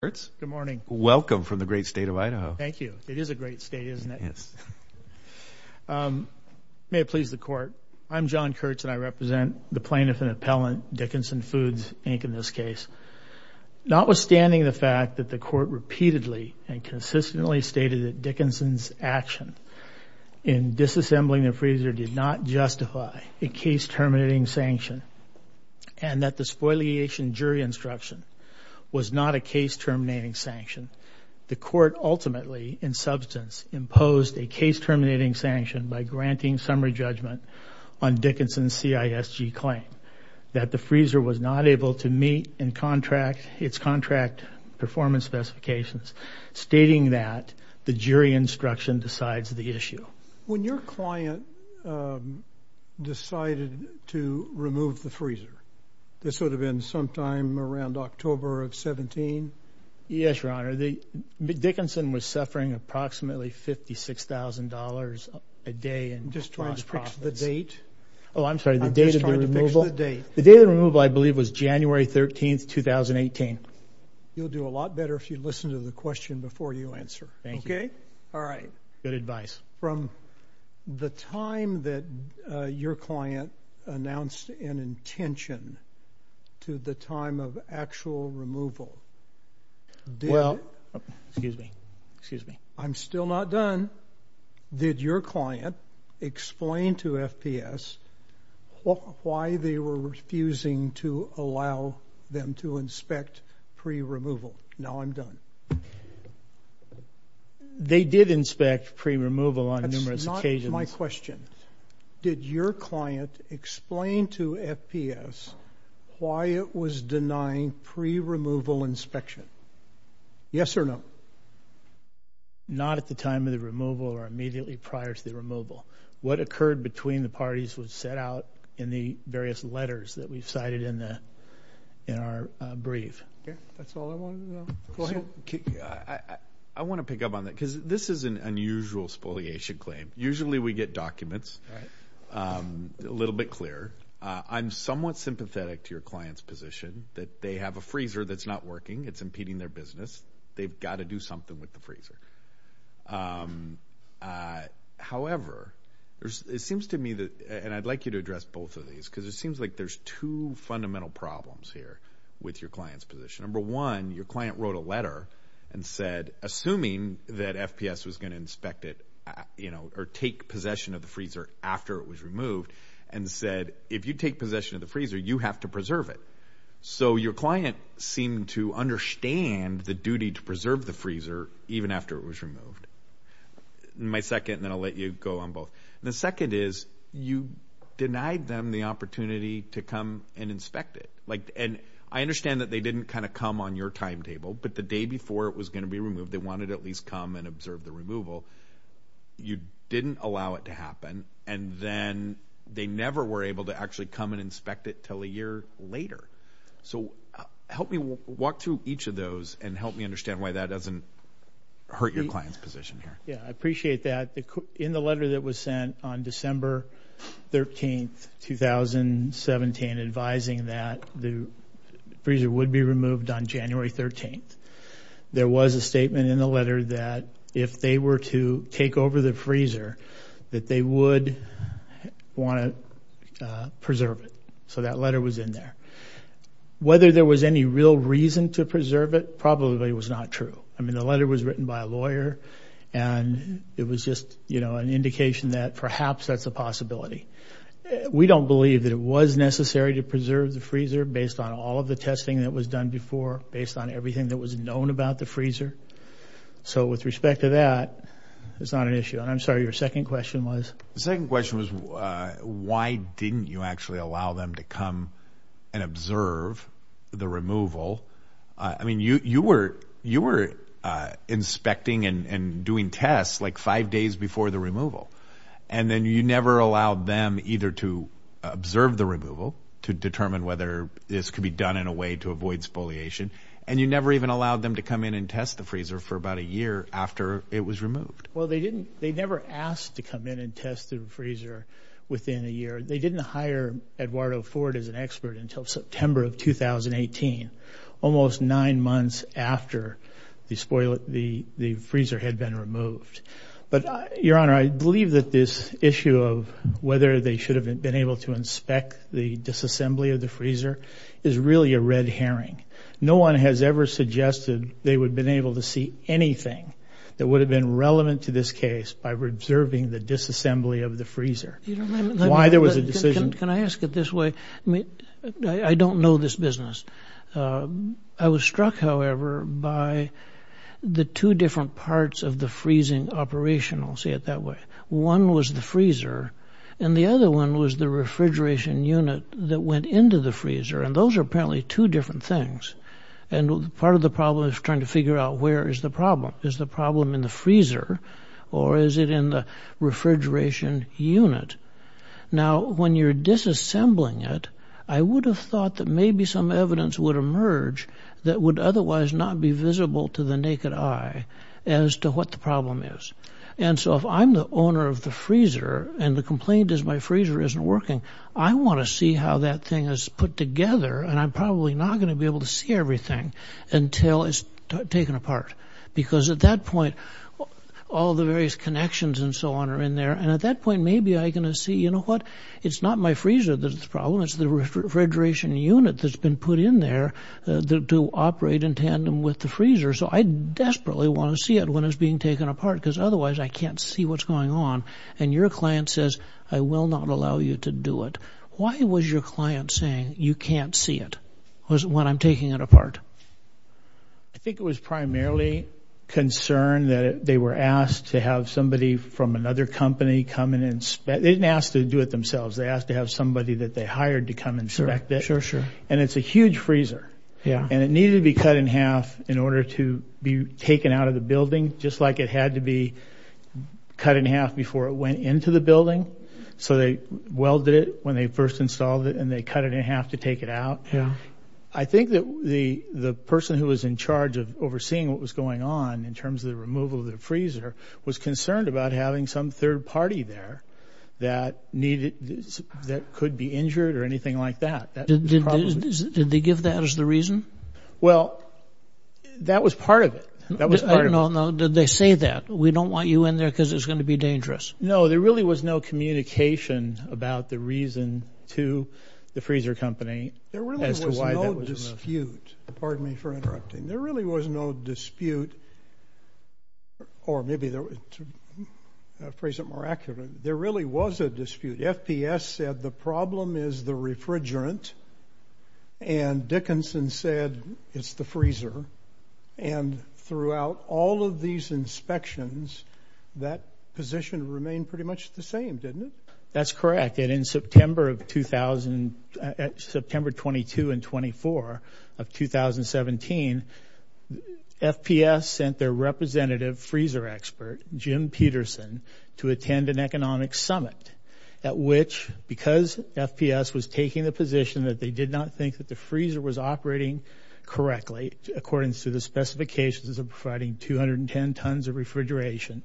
Good morning. Welcome from the great state of Idaho. Thank you. It is a great state, isn't it? Yes. May it please the court, I'm John Kurtz and I represent the plaintiff and appellant, Dickinson Foods, Inc., in this case. Notwithstanding the fact that the court repeatedly and consistently stated that Dickinson's action in disassembling the freezer did not justify a case terminating sanction and that the spoliation jury instruction was not a case terminating sanction, the court ultimately, in substance, imposed a case terminating sanction by granting summary judgment on Dickinson's CISG claim that the freezer was not able to meet its contract performance specifications, stating that the jury instruction decides the issue. When your client decided to remove the freezer, this would have been sometime around October of 17? Yes, Your Honor. Dickinson was suffering approximately $56,000 a day in profits. I'm just trying to fix the date. Oh, I'm sorry, the date of the removal? I'm just trying to fix the date. The date of the removal, I believe, was January 13, 2018. You'll do a lot better if you listen to the question before you answer. Thank you. Okay? All right. Good advice. From the time that your client announced an intention to the time of actual removal, did... Well, excuse me, excuse me. I'm still not done. Did your client explain to FPS why they were refusing to allow them to inspect pre-removal? Now I'm done. They did inspect pre-removal on numerous occasions. That's not my question. Did your client explain to FPS why it was denying pre-removal inspection? Yes or no? Not at the time of the removal or immediately prior to the removal. What occurred between the parties was set out in the various letters that we've cited in our brief. Yeah, that's all I wanted to know. Go ahead. I want to pick up on that because this is an unusual spoliation claim. Usually we get documents a little bit clearer. I'm somewhat sympathetic to your client's position that they have a freezer that's not working. It's impeding their business. They've got to do something with the freezer. However, it seems to me that, and I'd like you to address both of these, because it seems like there's two fundamental problems here with your client's position. Number one, your client wrote a letter and said, assuming that FPS was going to inspect it or take possession of the freezer after it was removed, and said, if you take possession of the freezer, you have to preserve it. So your client seemed to understand the duty to preserve the freezer even after it was removed. My second, and then I'll let you go on both. The second is you denied them the opportunity to come and inspect it. I understand that they didn't kind of come on your timetable, but the day before it was going to be removed, they wanted to at least come and observe the removal. You didn't allow it to happen, and then they never were able to actually come and inspect it until a year later. So help me walk through each of those and help me understand why that doesn't hurt your client's position here. Yeah, I appreciate that. In the letter that was sent on December 13th, 2017, advising that the freezer would be removed on January 13th, there was a statement in the letter that if they were to take over the freezer, that they would want to preserve it. So that letter was in there. Whether there was any real reason to preserve it probably was not true. I mean, the letter was written by a lawyer, and it was just, you know, an indication that perhaps that's a possibility. We don't believe that it was necessary to preserve the freezer based on all of the testing that was done before, based on everything that was known about the freezer. So with respect to that, it's not an issue. And I'm sorry, your second question was? The second question was why didn't you actually allow them to come and observe the removal? I mean, you were inspecting and doing tests like five days before the removal, and then you never allowed them either to observe the removal to determine whether this could be done in a way to avoid spoliation, and you never even allowed them to come in and test the freezer for about a year after it was removed. Well, they never asked to come in and test the freezer within a year. They didn't hire Eduardo Ford as an expert until September of 2018, almost nine months after the freezer had been removed. But, your Honor, I believe that this issue of whether they should have been able to inspect the disassembly of the freezer is really a red herring. No one has ever suggested they would have been able to see anything that would have been relevant to this case Can I ask it this way? I don't know this business. I was struck, however, by the two different parts of the freezing operation, I'll say it that way. One was the freezer, and the other one was the refrigeration unit that went into the freezer, and those are apparently two different things. And part of the problem is trying to figure out where is the problem. Is the problem in the freezer, or is it in the refrigeration unit? Now, when you're disassembling it, I would have thought that maybe some evidence would emerge that would otherwise not be visible to the naked eye as to what the problem is. And so, if I'm the owner of the freezer, and the complaint is my freezer isn't working, I want to see how that thing is put together, and I'm probably not going to be able to see everything until it's taken apart. Because at that point, all the various connections and so on are in there, and at that point, maybe I'm going to see, you know what, it's not my freezer that's the problem, it's the refrigeration unit that's been put in there to operate in tandem with the freezer. So I desperately want to see it when it's being taken apart, because otherwise I can't see what's going on. And your client says, I will not allow you to do it. Why was your client saying, you can't see it, when I'm taking it apart? I think it was primarily concern that they were asked to have somebody from another company come and inspect it. They didn't ask to do it themselves. They asked to have somebody that they hired to come and inspect it. Sure, sure. And it's a huge freezer. Yeah. And it needed to be cut in half in order to be taken out of the building, just like it had to be cut in half before it went into the building. So they welded it when they first installed it, and they cut it in half to take it out. I think that the person who was in charge of overseeing what was going on, in terms of the removal of the freezer, was concerned about having some third party there that could be injured or anything like that. Did they give that as the reason? Well, that was part of it. Did they say that, we don't want you in there because it's going to be dangerous? No, there really was no communication about the reason to the freezer company. There really was no dispute. Pardon me for interrupting. There really was no dispute, or maybe to phrase it more accurately, there really was a dispute. FPS said the problem is the refrigerant, and Dickinson said it's the freezer. And throughout all of these inspections, that position remained pretty much the same, didn't it? That's correct. In fact, that in September of 2000, September 22 and 24 of 2017, FPS sent their representative freezer expert, Jim Peterson, to attend an economic summit, at which, because FPS was taking the position that they did not think that the freezer was operating correctly, according to the specifications of providing 210 tons of refrigeration,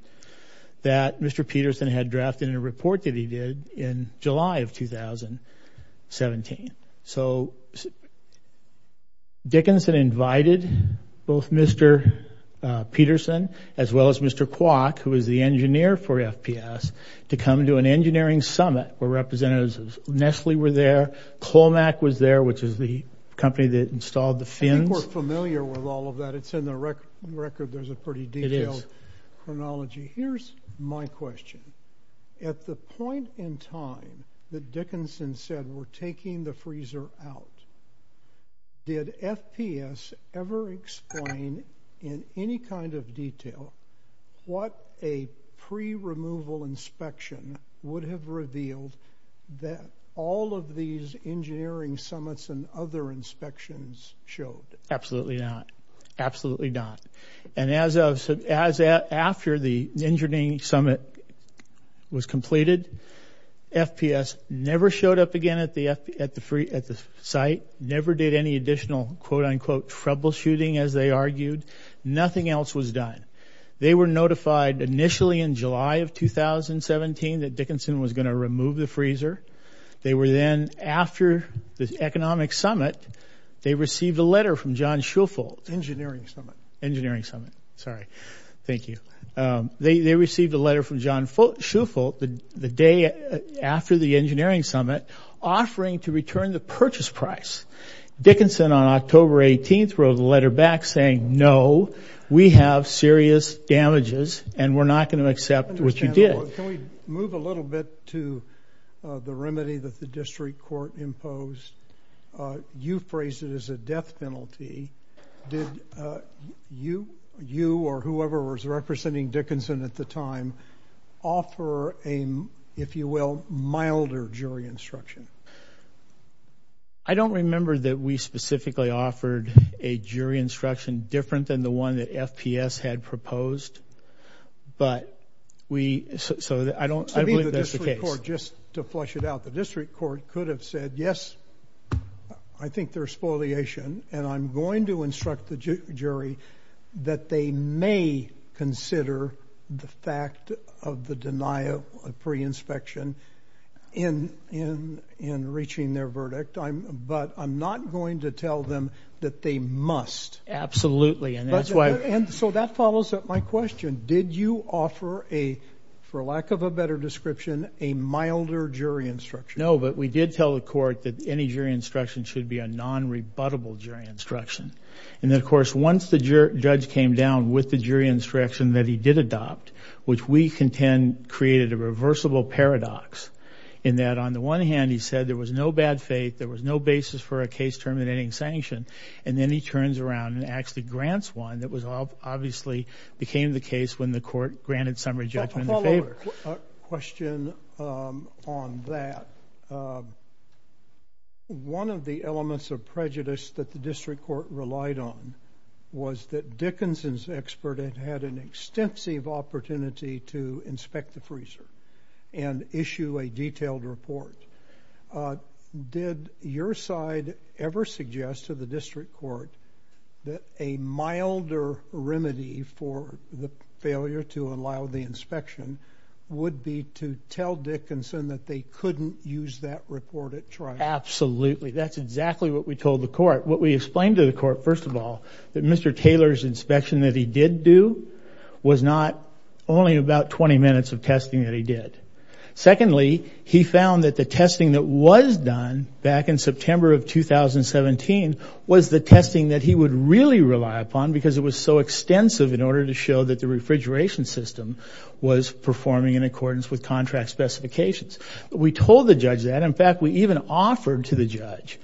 that Mr. Peterson had drafted in a report that he did in July of 2017. So Dickinson invited both Mr. Peterson as well as Mr. Kwok, who was the engineer for FPS, to come to an engineering summit where representatives of Nestle were there, Colmac was there, which is the company that installed the fins. I think we're familiar with all of that. It's in the record. There's a pretty detailed chronology. Here's my question. At the point in time that Dickinson said we're taking the freezer out, did FPS ever explain in any kind of detail what a pre-removal inspection would have revealed that all of these engineering summits and other inspections showed? Absolutely not. Absolutely not. And after the engineering summit was completed, FPS never showed up again at the site, never did any additional, quote-unquote, troubleshooting, as they argued. Nothing else was done. They were notified initially in July of 2017 that Dickinson was going to remove the freezer. They were then, after the economic summit, they received a letter from John Shufelt. Engineering summit. Engineering summit. Sorry. Thank you. They received a letter from John Shufelt the day after the engineering summit offering to return the purchase price. Dickinson, on October 18th, wrote a letter back saying, no, we have serious damages and we're not going to accept what you did. Can we move a little bit to the remedy that the district court imposed? You phrased it as a death penalty. Did you or whoever was representing Dickinson at the time offer a, if you will, milder jury instruction? I don't remember that we specifically offered a jury instruction different than the one that FPS had proposed, but we, so I don't, I believe that's the case. To me, the district court, just to flush it out, the district court could have said, yes, I think there's spoliation and I'm going to instruct the jury that they may consider the fact of the denial of pre-inspection in reaching their verdict, but I'm not going to tell them that they must. Absolutely. And so that follows up my question. Did you offer a, for lack of a better description, a milder jury instruction? No, but we did tell the court that any jury instruction should be a non-rebuttable jury instruction. And then, of course, once the judge came down with the jury instruction that he did adopt, which we contend created a reversible paradox in that on the one hand, he said there was no bad faith, there was no basis for a case terminating sanction, and then he turns around and actually grants one that obviously became the case when the court granted summary judgment in favor. A follow-up question on that. One of the elements of prejudice that the district court relied on was that Dickinson's expert had had an extensive opportunity to inspect the freezer and issue a detailed report. Did your side ever suggest to the district court that a milder remedy for the failure to allow the inspection would be to tell Dickinson that they couldn't use that report at trial? Absolutely. That's exactly what we told the court. What we explained to the court, first of all, that Mr. Taylor's inspection that he did do was not only about 20 minutes of testing that he did. Secondly, he found that the testing that was done back in September of 2017 was the testing that he would really rely upon because it was so extensive in order to show that the refrigeration system was performing in accordance with contract specifications. We told the judge that. In fact, we even offered to the judge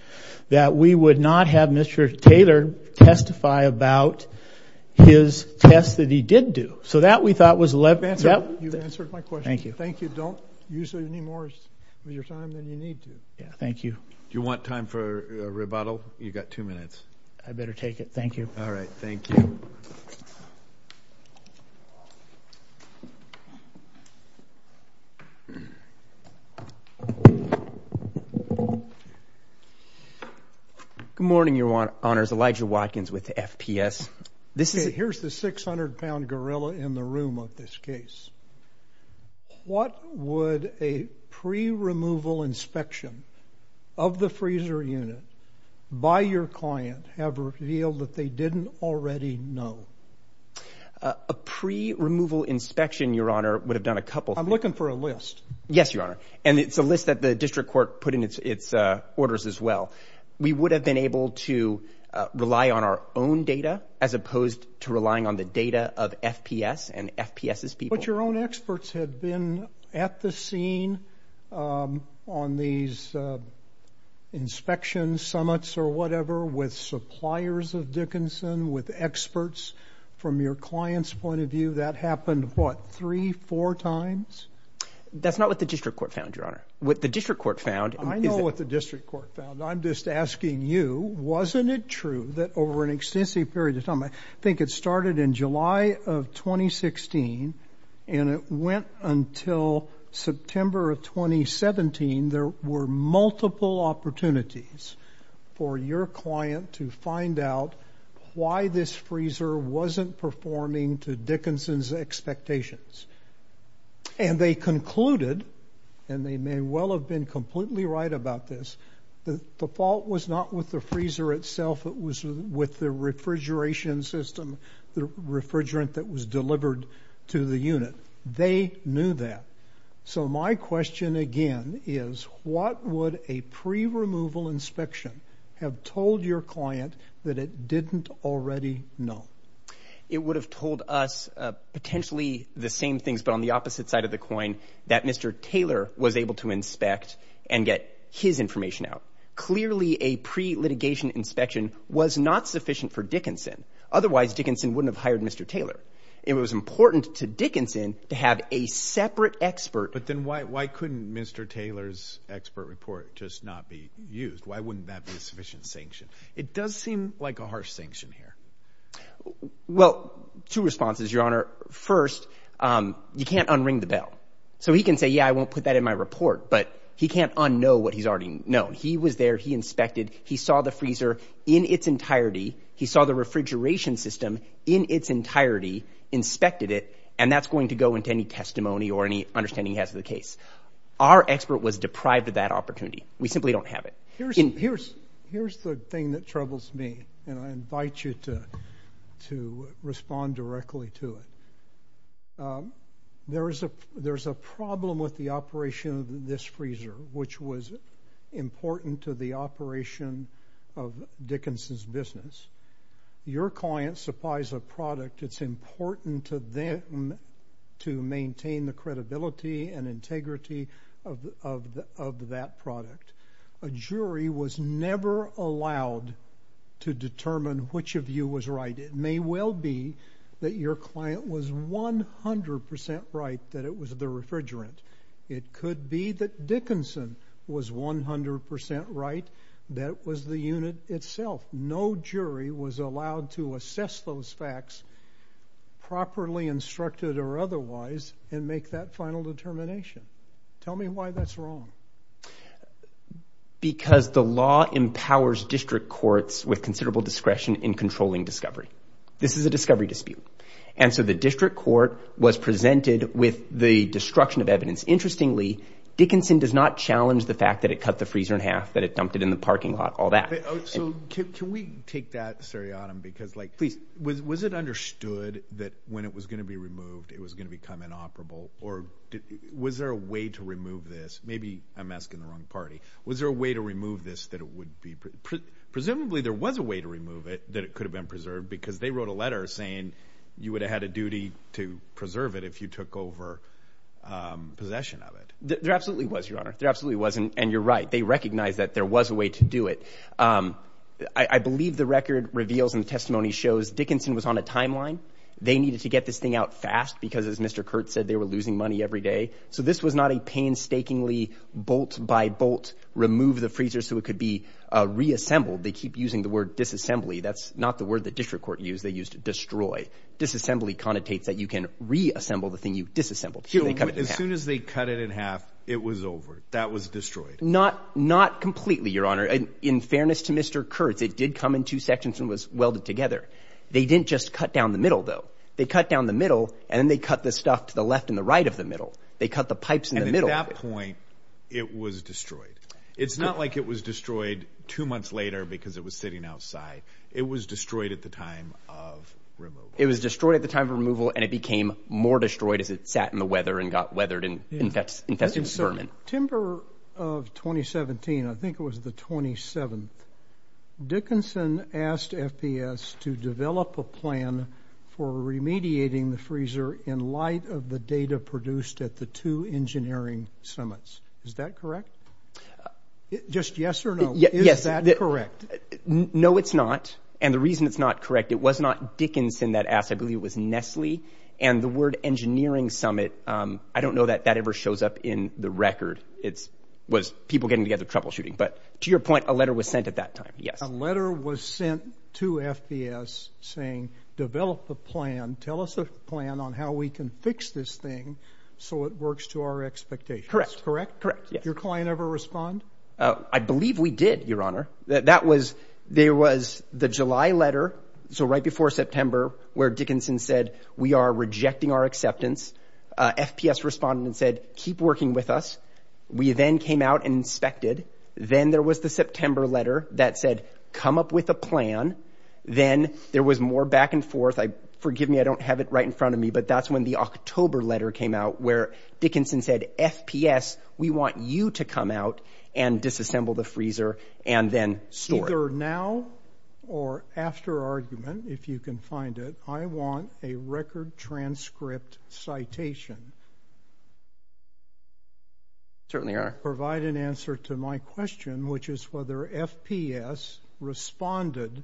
that we would not have Mr. Taylor testify about his test that he did do. So that, we thought, was the left answer. You've answered my question. Thank you. Thank you. Don't use any more of your time than you need to. Thank you. Do you want time for a rebuttal? You've got two minutes. I better take it. Thank you. All right. Thank you. Good morning, Your Honors. Elijah Watkins with the FPS. Here's the 600-pound gorilla in the room of this case. What would a pre-removal inspection of the freezer unit by your client have revealed that they didn't already know? A pre-removal inspection, Your Honor, would have done a couple things. I'm looking for a list. Yes, Your Honor. And it's a list that the district court put in its orders as well. We would have been able to rely on our own data as opposed to relying on the data of FPS and FPS's people. But your own experts have been at the scene on these inspection summits or whatever with suppliers of Dickinson, with experts from your client's point of view. That happened, what, three, four times? I know what the district court found. I'm just asking you, wasn't it true that over an extensive period of time, I think it started in July of 2016, and it went until September of 2017, there were multiple opportunities for your client to find out why this freezer wasn't performing to Dickinson's expectations. And they concluded, and they may well have been completely right about this, that the fault was not with the freezer itself. It was with the refrigeration system, the refrigerant that was delivered to the unit. They knew that. So my question, again, is what would a pre-removal inspection have told your client that it didn't already know? It would have told us potentially the same things, but on the opposite side of the coin, that Mr. Taylor was able to inspect and get his information out. Clearly, a pre-litigation inspection was not sufficient for Dickinson. Otherwise, Dickinson wouldn't have hired Mr. Taylor. It was important to Dickinson to have a separate expert. But then why couldn't Mr. Taylor's expert report just not be used? Why wouldn't that be a sufficient sanction? It does seem like a harsh sanction here. Well, two responses, Your Honor. First, you can't un-ring the bell. So he can say, yeah, I won't put that in my report, but he can't un-know what he's already known. He was there. He inspected. He saw the freezer in its entirety. He saw the refrigeration system in its entirety, inspected it, and that's going to go into any testimony or any understanding he has of the case. Our expert was deprived of that opportunity. We simply don't have it. Here's the thing that troubles me, and I invite you to respond directly to it. There's a problem with the operation of this freezer, which was important to the operation of Dickinson's business. Your client supplies a product. It's important to them to maintain the credibility and integrity of that product. A jury was never allowed to determine which of you was right. It may well be that your client was 100% right that it was the refrigerant. It could be that Dickinson was 100% right that it was the unit itself. No jury was allowed to assess those facts, properly instructed or otherwise, and make that final determination. Tell me why that's wrong. Because the law empowers district courts with considerable discretion in controlling discovery. This is a discovery dispute. And so the district court was presented with the destruction of evidence. Interestingly, Dickinson does not challenge the fact that it cut the freezer in half, that it dumped it in the parking lot, all that. So can we take that seriatim because, like, please, was it understood that when it was going to be removed, it was going to become inoperable? Or was there a way to remove this? Maybe I'm asking the wrong party. Was there a way to remove this that it would be preserved? Presumably there was a way to remove it that it could have been preserved because they wrote a letter saying you would have had a duty to preserve it if you took over possession of it. There absolutely was, Your Honor. There absolutely was. And you're right. They recognized that there was a way to do it. I believe the record reveals and the testimony shows Dickinson was on a timeline. They needed to get this thing out fast because, as Mr. Kurtz said, they were losing money every day. So this was not a painstakingly bolt by bolt remove the freezer so it could be reassembled. They keep using the word disassembly. That's not the word the district court used. They used destroy. Disassembly connotates that you can reassemble the thing you disassembled. As soon as they cut it in half, it was over. That was destroyed. Not completely, Your Honor. In fairness to Mr. Kurtz, it did come in two sections and was welded together. They didn't just cut down the middle, though. They cut down the middle, and then they cut the stuff to the left and the right of the middle. They cut the pipes in the middle. And at that point, it was destroyed. It's not like it was destroyed two months later because it was sitting outside. It was destroyed at the time of removal. It was destroyed at the time of removal, and it became more destroyed as it sat in the weather and got weathered and infested with vermin. September of 2017, I think it was the 27th, Dickinson asked FPS to develop a plan for remediating the freezer in light of the data produced at the two engineering summits. Is that correct? Just yes or no, is that correct? No, it's not. And the reason it's not correct, it was not Dickinson that asked. I believe it was Nestle. And the word engineering summit, I don't know that that ever shows up in the record. It was people getting together, troubleshooting. But to your point, a letter was sent at that time, yes. A letter was sent to FPS saying, develop a plan. Tell us a plan on how we can fix this thing so it works to our expectations. Correct. Correct? Correct. Did your client ever respond? I believe we did, Your Honor. There was the July letter, so right before September, where Dickinson said, we are rejecting our acceptance. FPS responded and said, keep working with us. We then came out and inspected. Then there was the September letter that said, come up with a plan. Then there was more back and forth. Forgive me, I don't have it right in front of me, but that's when the October letter came out where Dickinson said, FPS, we want you to come out and disassemble the freezer and then store it. Either now or after argument, if you can find it, I want a record transcript citation. Certainly, Your Honor. Does that provide an answer to my question, which is whether FPS responded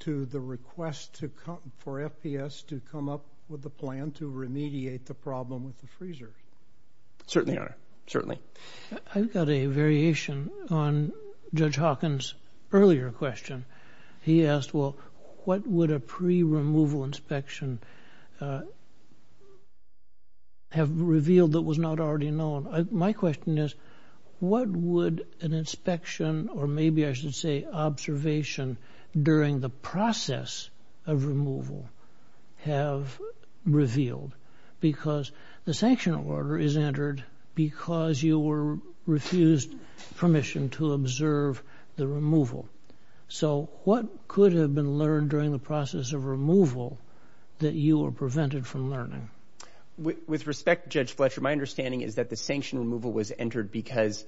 to the request for FPS to come up with a plan to remediate the problem with the freezer? Certainly, Your Honor. Certainly. I've got a variation on Judge Hawkins' earlier question. He asked, well, what would a pre-removal inspection have revealed that was not already known? My question is, what would an inspection, or maybe I should say observation, during the process of removal have revealed? Because the sanction order is entered because you were refused permission to observe the removal. So what could have been learned during the process of removal that you were prevented from learning? With respect, Judge Fletcher, my understanding is that the sanction removal was entered because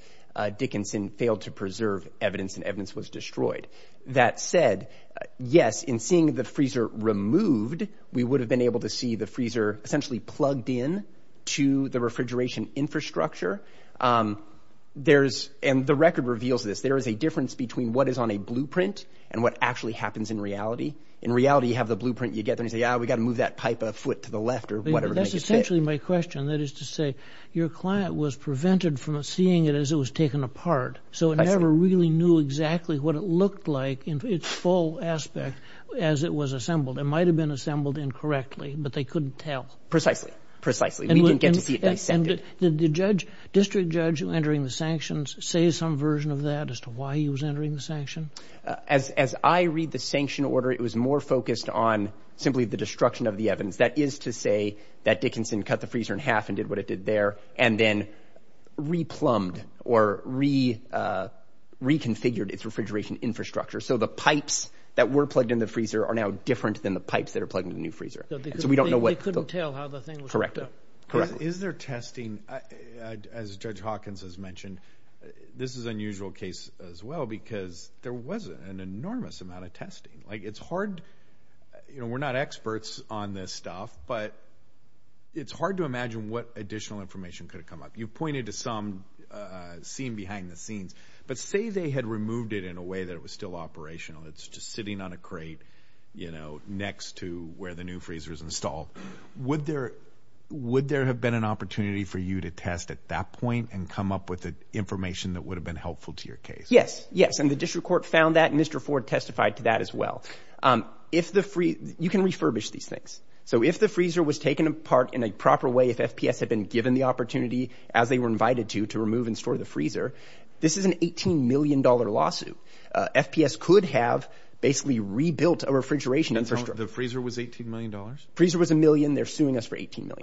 Dickinson failed to preserve evidence and evidence was destroyed. That said, yes, in seeing the freezer removed, we would have been able to see the freezer essentially plugged in to the refrigeration infrastructure. And the record reveals this. There is a difference between what is on a blueprint and what actually happens in reality. In reality, you have the blueprint. You get there and you say, ah, we've got to move that pipe a foot to the left or whatever. That's essentially my question. That is to say, your client was prevented from seeing it as it was taken apart. So it never really knew exactly what it looked like in its full aspect as it was assembled. It might have been assembled incorrectly, but they couldn't tell. Precisely. Precisely. We didn't get to see it dissected. Did the district judge entering the sanctions say some version of that as to why he was entering the sanction? As I read the sanction order, it was more focused on simply the destruction of the evidence. That is to say that Dickinson cut the freezer in half and did what it did there and then re-plumbed or re-configured its refrigeration infrastructure. So the pipes that were plugged in the freezer are now different than the pipes that are plugged in the new freezer. So we don't know what... They couldn't tell how the thing was hooked up. Correct. Is there testing, as Judge Hawkins has mentioned, this is an unusual case as well because there was an enormous amount of testing. It's hard... We're not experts on this stuff, but it's hard to imagine what additional information could have come up. You pointed to some seen behind the scenes, but say they had removed it in a way that it was still operational. It's just sitting on a crate next to where the new freezer is installed. Would there have been an opportunity for you to test at that point and come up with information that would have been helpful to your case? Yes. Yes, and the district court found that and Mr. Ford testified to that as well. You can refurbish these things. So if the freezer was taken apart in a proper way, if FPS had been given the opportunity, as they were invited to, to remove and store the freezer, this is an $18 million lawsuit. FPS could have basically rebuilt a refrigeration infrastructure. The freezer was $18 million? The freezer was $1 million. They're suing us for $18 million.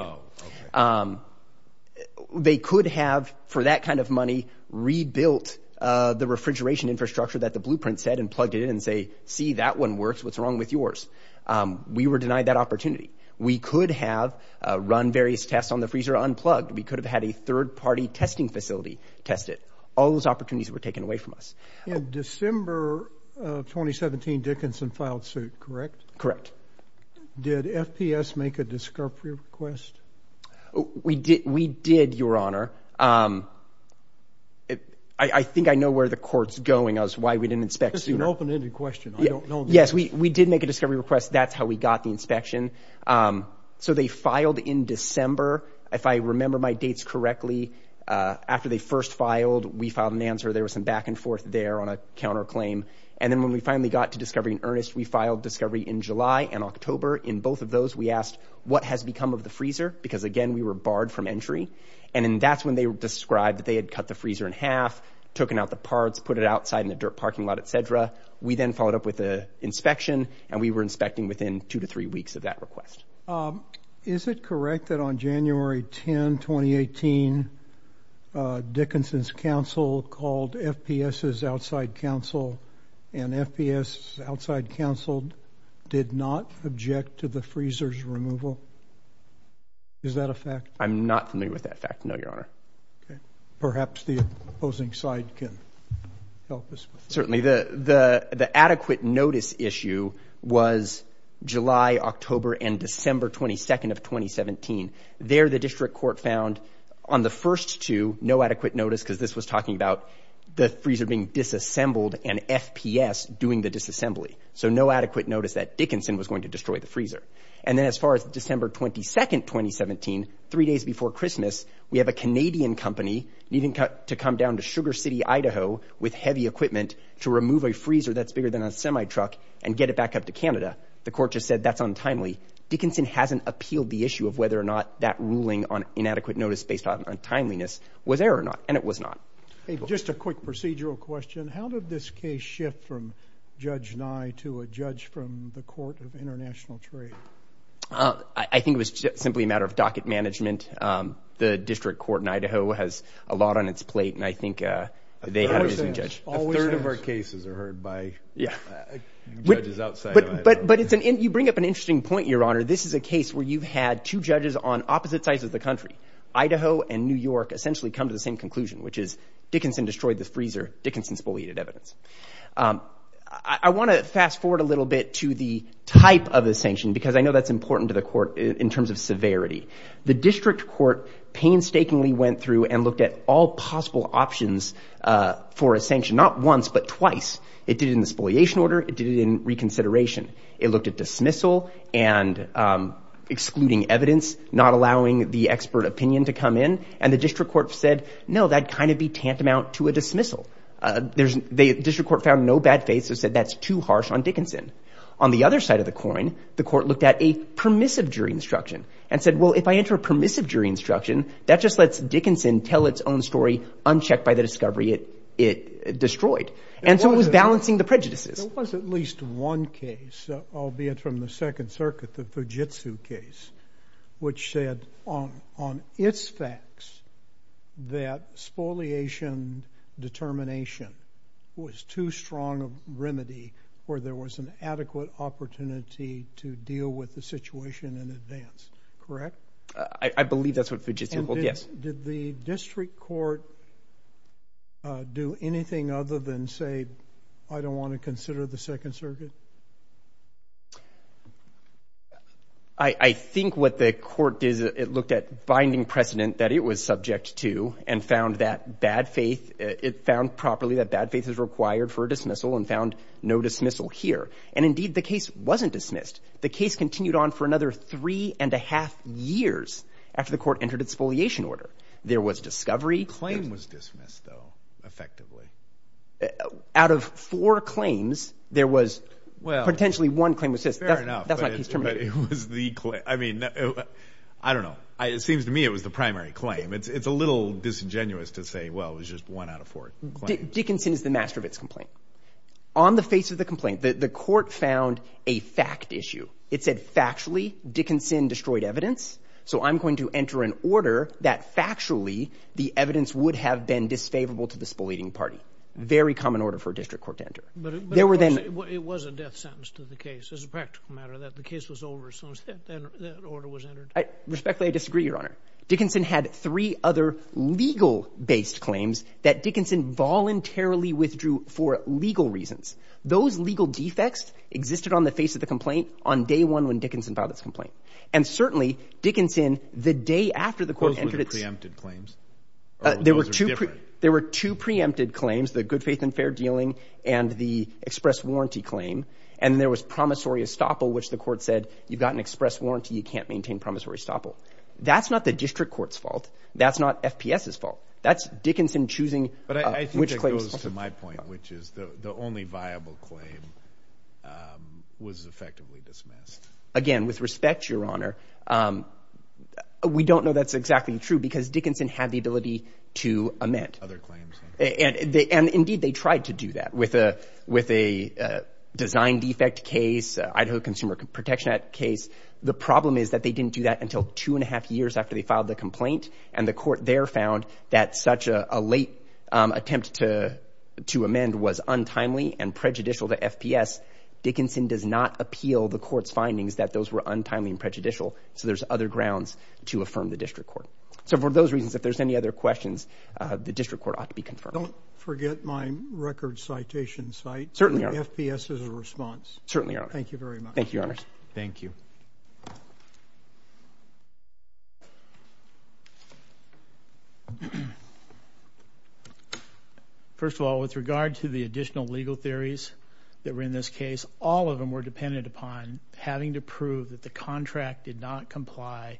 Oh, okay. They could have, for that kind of money, rebuilt the refrigeration infrastructure that the Blueprint said and plugged it in and say, see, that one works. What's wrong with yours? We were denied that opportunity. We could have run various tests on the freezer unplugged. We could have had a third-party testing facility test it. All those opportunities were taken away from us. In December of 2017, Dickinson filed suit, correct? Correct. Did FPS make a discovery request? We did, Your Honor. I think I know where the court's going as to why we didn't inspect sooner. This is an open-ended question. I don't know the answer. Yes, we did make a discovery request. That's how we got the inspection. So they filed in December. If I remember my dates correctly, after they first filed, we filed an answer. There was some back and forth there on a counterclaim. And then when we finally got to discovery in earnest, we filed discovery in July and October. In both of those, we asked, what has become of the freezer? Because, again, we were barred from entry. And then that's when they described that they had cut the freezer in half, taken out the parts, put it outside in the dirt parking lot, et cetera. We then followed up with an inspection, and we were inspecting within two to three weeks of that request. Is it correct that on January 10, 2018, Dickinson's counsel called FPS's outside counsel, and FPS's outside counsel did not object to the freezer's removal? Is that a fact? I'm not familiar with that fact, no, Your Honor. Okay. Perhaps the opposing side can help us with that. Certainly. The adequate notice issue was July, October, and December 22nd of 2017. There the district court found on the first two no adequate notice because this was talking about the freezer being disassembled and FPS doing the disassembly. So no adequate notice that Dickinson was going to destroy the freezer. And then as far as December 22nd, 2017, three days before Christmas, we have a Canadian company needing to come down to Sugar City, Idaho, with heavy equipment to remove a freezer that's bigger than a semi-truck and get it back up to Canada. The court just said that's untimely. Dickinson hasn't appealed the issue of whether or not that ruling on inadequate notice based on untimeliness was there or not, and it was not. Just a quick procedural question. How did this case shift from Judge Nye to a judge from the Court of International Trade? I think it was simply a matter of docket management. The district court in Idaho has a lot on its plate, and I think they had a good judge. A third of our cases are heard by judges outside of Idaho. But you bring up an interesting point, Your Honor. This is a case where you've had two judges on opposite sides of the country, Idaho and New York, essentially come to the same conclusion, which is Dickinson destroyed the freezer, Dickinson spoliated evidence. I want to fast-forward a little bit to the type of the sanction because I know that's important to the court in terms of severity. The district court painstakingly went through and looked at all possible options for a sanction, not once but twice. It did it in the spoliation order. It did it in reconsideration. It looked at dismissal and excluding evidence, not allowing the expert opinion to come in. And the district court said, no, that'd kind of be tantamount to a dismissal. The district court found no bad faith so said that's too harsh on Dickinson. On the other side of the coin, the court looked at a permissive jury instruction and said, well, if I enter a permissive jury instruction, that just lets Dickinson tell its own story unchecked by the discovery it destroyed. And so it was balancing the prejudices. There was at least one case, albeit from the Second Circuit, the Fujitsu case, which said on its facts that spoliation determination was too strong a remedy where there was an adequate opportunity to deal with the situation in advance. Correct? I believe that's what Fujitsu held, yes. Did the district court do anything other than say, I don't want to consider the Second Circuit? I think what the court did is it looked at binding precedent that it was subject to and found that bad faith, it found properly that bad faith is required for a dismissal and found no dismissal here. And, indeed, the case wasn't dismissed. The case continued on for another three and a half years after the court entered its spoliation order. There was discovery. The claim was dismissed, though, effectively. Out of four claims, there was potentially one claim that was dismissed. Fair enough, but it was the claim. I mean, I don't know. It seems to me it was the primary claim. It's a little disingenuous to say, well, it was just one out of four claims. Dickinson is the master of its complaint. On the face of the complaint, the court found a fact issue. It said, factually, Dickinson destroyed evidence, so I'm going to enter an order that factually the evidence would have been disfavorable to the spoliating party. Very common order for a district court to enter. But it was a death sentence to the case. It was a practical matter that the case was over as soon as that order was entered. Respectfully, I disagree, Your Honor. Dickinson had three other legal-based claims that Dickinson voluntarily withdrew for legal reasons. Those legal defects existed on the face of the complaint on day one when Dickinson filed its complaint. And certainly, Dickinson, the day after the court entered its ‑‑ Those were the preempted claims? Those are different. There were two preempted claims, the good faith and fair dealing and the express warranty claim. And there was promissory estoppel, which the court said, you've got an express warranty. You can't maintain promissory estoppel. That's not the district court's fault. That's not FPS's fault. That's Dickinson choosing which claims to ‑‑ But I think it goes to my point, which is the only viable claim was effectively dismissed. Again, with respect, Your Honor, we don't know that's exactly true because Dickinson had the ability to amend. Other claims. And indeed, they tried to do that with a design defect case, Idaho Consumer Protection Act case. The problem is that they didn't do that until two and a half years after they filed the complaint. And the court there found that such a late attempt to amend was untimely and prejudicial to FPS. Dickinson does not appeal the court's findings that those were untimely and prejudicial. So there's other grounds to affirm the district court. So for those reasons, if there's any other questions, the district court ought to be confirmed. Don't forget my record citation site. Certainly, Your Honor. FPS is a response. Certainly, Your Honor. Thank you very much. Thank you, Your Honors. Thank you. Thank you. First of all, with regard to the additional legal theories that were in this case, all of them were dependent upon having to prove that the contract did not comply,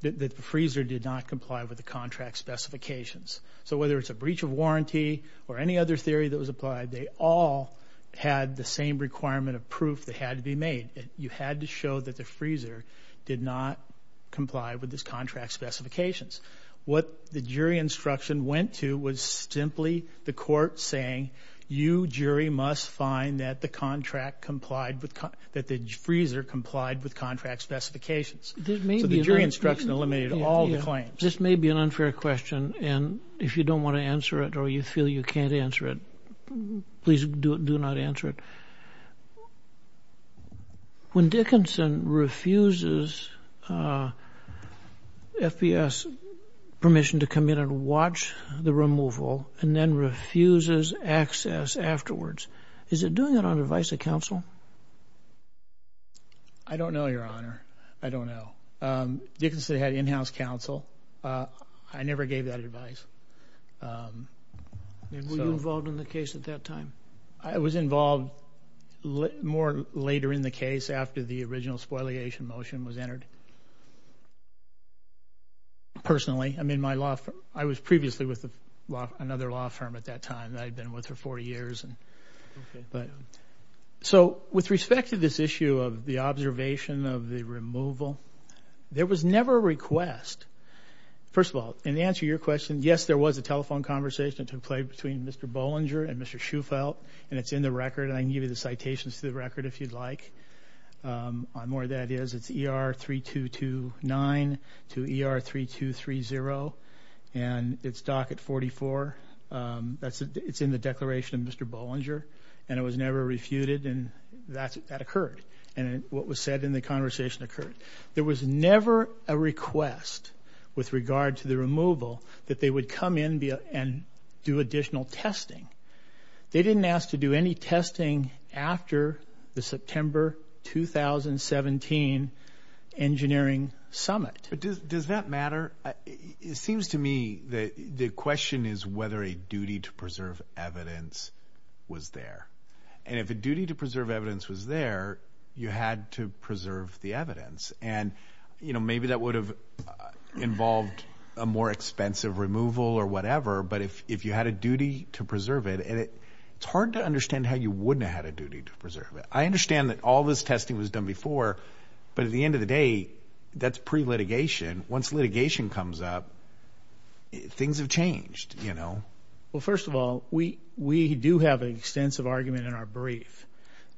that the freezer did not comply with the contract specifications. So whether it's a breach of warranty or any other theory that was applied, they all had the same requirement of proof that had to be made. You had to show that the freezer did not comply with these contract specifications. What the jury instruction went to was simply the court saying, you jury must find that the contract complied with, that the freezer complied with contract specifications. So the jury instruction eliminated all the claims. This may be an unfair question, and if you don't want to answer it or you feel you can't answer it, please do not answer it. When Dickinson refuses FBS permission to come in and watch the removal and then refuses access afterwards, is it doing it on advice of counsel? I don't know, Your Honor. I don't know. Dickinson had in-house counsel. I never gave that advice. Were you involved in the case at that time? I was involved more later in the case after the original spoliation motion was entered. Personally, I was previously with another law firm at that time. I had been with her 40 years. So with respect to this issue of the observation of the removal, there was never a request. First of all, in answer to your question, yes, there was a telephone conversation that took place between Mr. Bollinger and Mr. Shufelt, and it's in the record, and I can give you the citations to the record if you'd like on where that is. It's ER-3229 to ER-3230, and it's docket 44. It's in the declaration of Mr. Bollinger, and it was never refuted, and that occurred, and what was said in the conversation occurred. There was never a request with regard to the removal that they would come in and do additional testing. They didn't ask to do any testing after the September 2017 engineering summit. But does that matter? It seems to me that the question is whether a duty to preserve evidence was there, and if a duty to preserve evidence was there, you had to preserve the evidence. And, you know, maybe that would have involved a more expensive removal or whatever, but if you had a duty to preserve it, it's hard to understand how you wouldn't have had a duty to preserve it. I understand that all this testing was done before, but at the end of the day, that's pre-litigation. Once litigation comes up, things have changed, you know. Well, first of all, we do have an extensive argument in our brief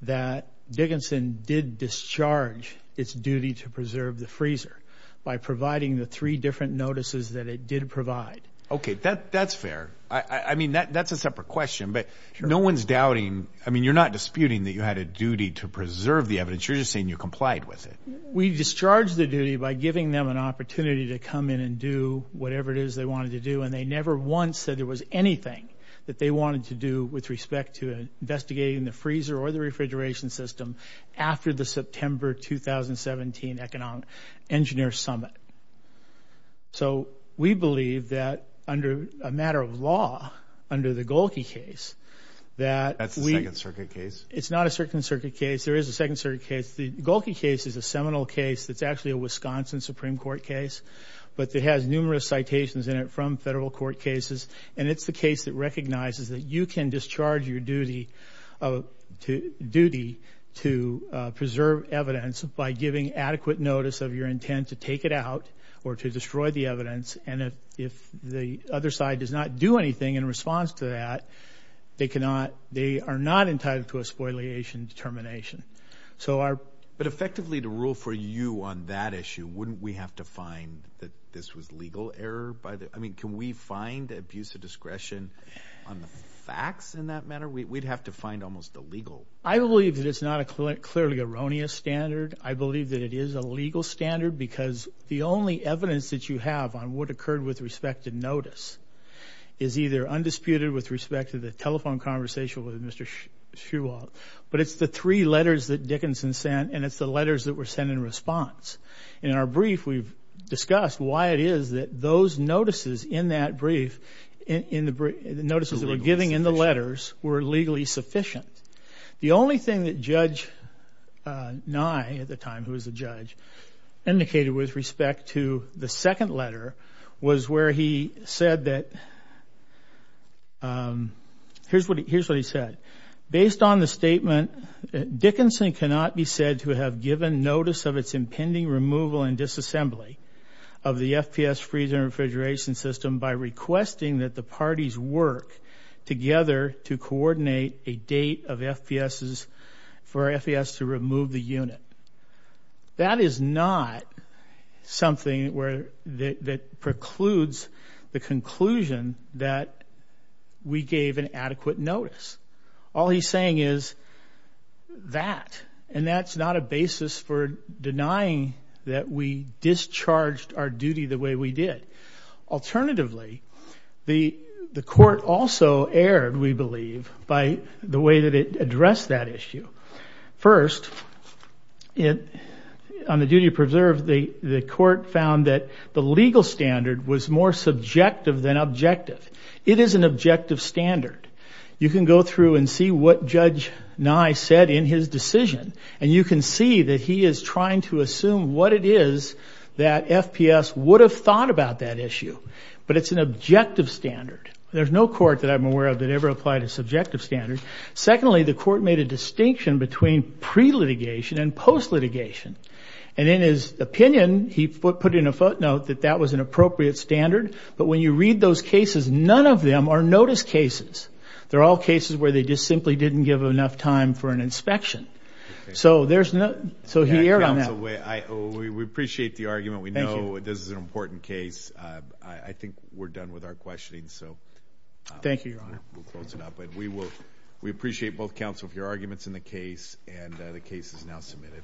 that Dickinson did discharge its duty to preserve the freezer by providing the three different notices that it did provide. Okay, that's fair. I mean, that's a separate question, but no one's doubting. I mean, you're not disputing that you had a duty to preserve the evidence. You're just saying you complied with it. We discharged the duty by giving them an opportunity to come in and do whatever it is they wanted to do, and they never once said there was anything that they wanted to do with respect to investigating the freezer or the refrigeration system after the September 2017 Economic Engineer Summit. So we believe that under a matter of law, under the Golke case, that we – That's a Second Circuit case? It's not a Second Circuit case. There is a Second Circuit case. The Golke case is a seminal case that's actually a Wisconsin Supreme Court case, but it has numerous citations in it from federal court cases, and it's the case that recognizes that you can discharge your duty to preserve evidence by giving adequate notice of your intent to take it out or to destroy the evidence, and if the other side does not do anything in response to that, they cannot – they are not entitled to a spoliation determination. But effectively, to rule for you on that issue, wouldn't we have to find that this was legal error by the – I mean, can we find abuse of discretion on the facts in that matter? We'd have to find almost the legal. I believe that it's not a clearly erroneous standard. I believe that it is a legal standard because the only evidence that you have on what occurred with respect to notice is either undisputed with respect to the telephone conversation with Mr. Shewalt, but it's the three letters that Dickinson sent, and it's the letters that were sent in response. And in our brief, we've discussed why it is that those notices in that brief, the notices that were given in the letters, were legally sufficient. The only thing that Judge Nye at the time, who was a judge, indicated with respect to the second letter was where he said that – here's what he said. Based on the statement, Dickinson cannot be said to have given notice of its impending removal and disassembly of the FPS freezer and refrigeration system by requesting that the parties work together to coordinate a date of FPSs for FPS to remove the unit. That is not something that precludes the conclusion that we gave an adequate notice. All he's saying is that. And that's not a basis for denying that we discharged our duty the way we did. Alternatively, the court also erred, we believe, by the way that it addressed that issue. First, on the duty to preserve, the court found that the legal standard was more subjective than objective. It is an objective standard. You can go through and see what Judge Nye said in his decision, and you can see that he is trying to assume what it is that FPS would have thought about that issue. But it's an objective standard. There's no court that I'm aware of that ever applied a subjective standard. Secondly, the court made a distinction between pre-litigation and post-litigation. And in his opinion, he put in a footnote that that was an appropriate standard. But when you read those cases, none of them are notice cases. They're all cases where they just simply didn't give enough time for an inspection. So he erred on that. Counsel, we appreciate the argument. We know this is an important case. I think we're done with our questioning. Thank you, Your Honor. We'll close it up. But we appreciate both counsel for your arguments in the case, and the case is now submitted.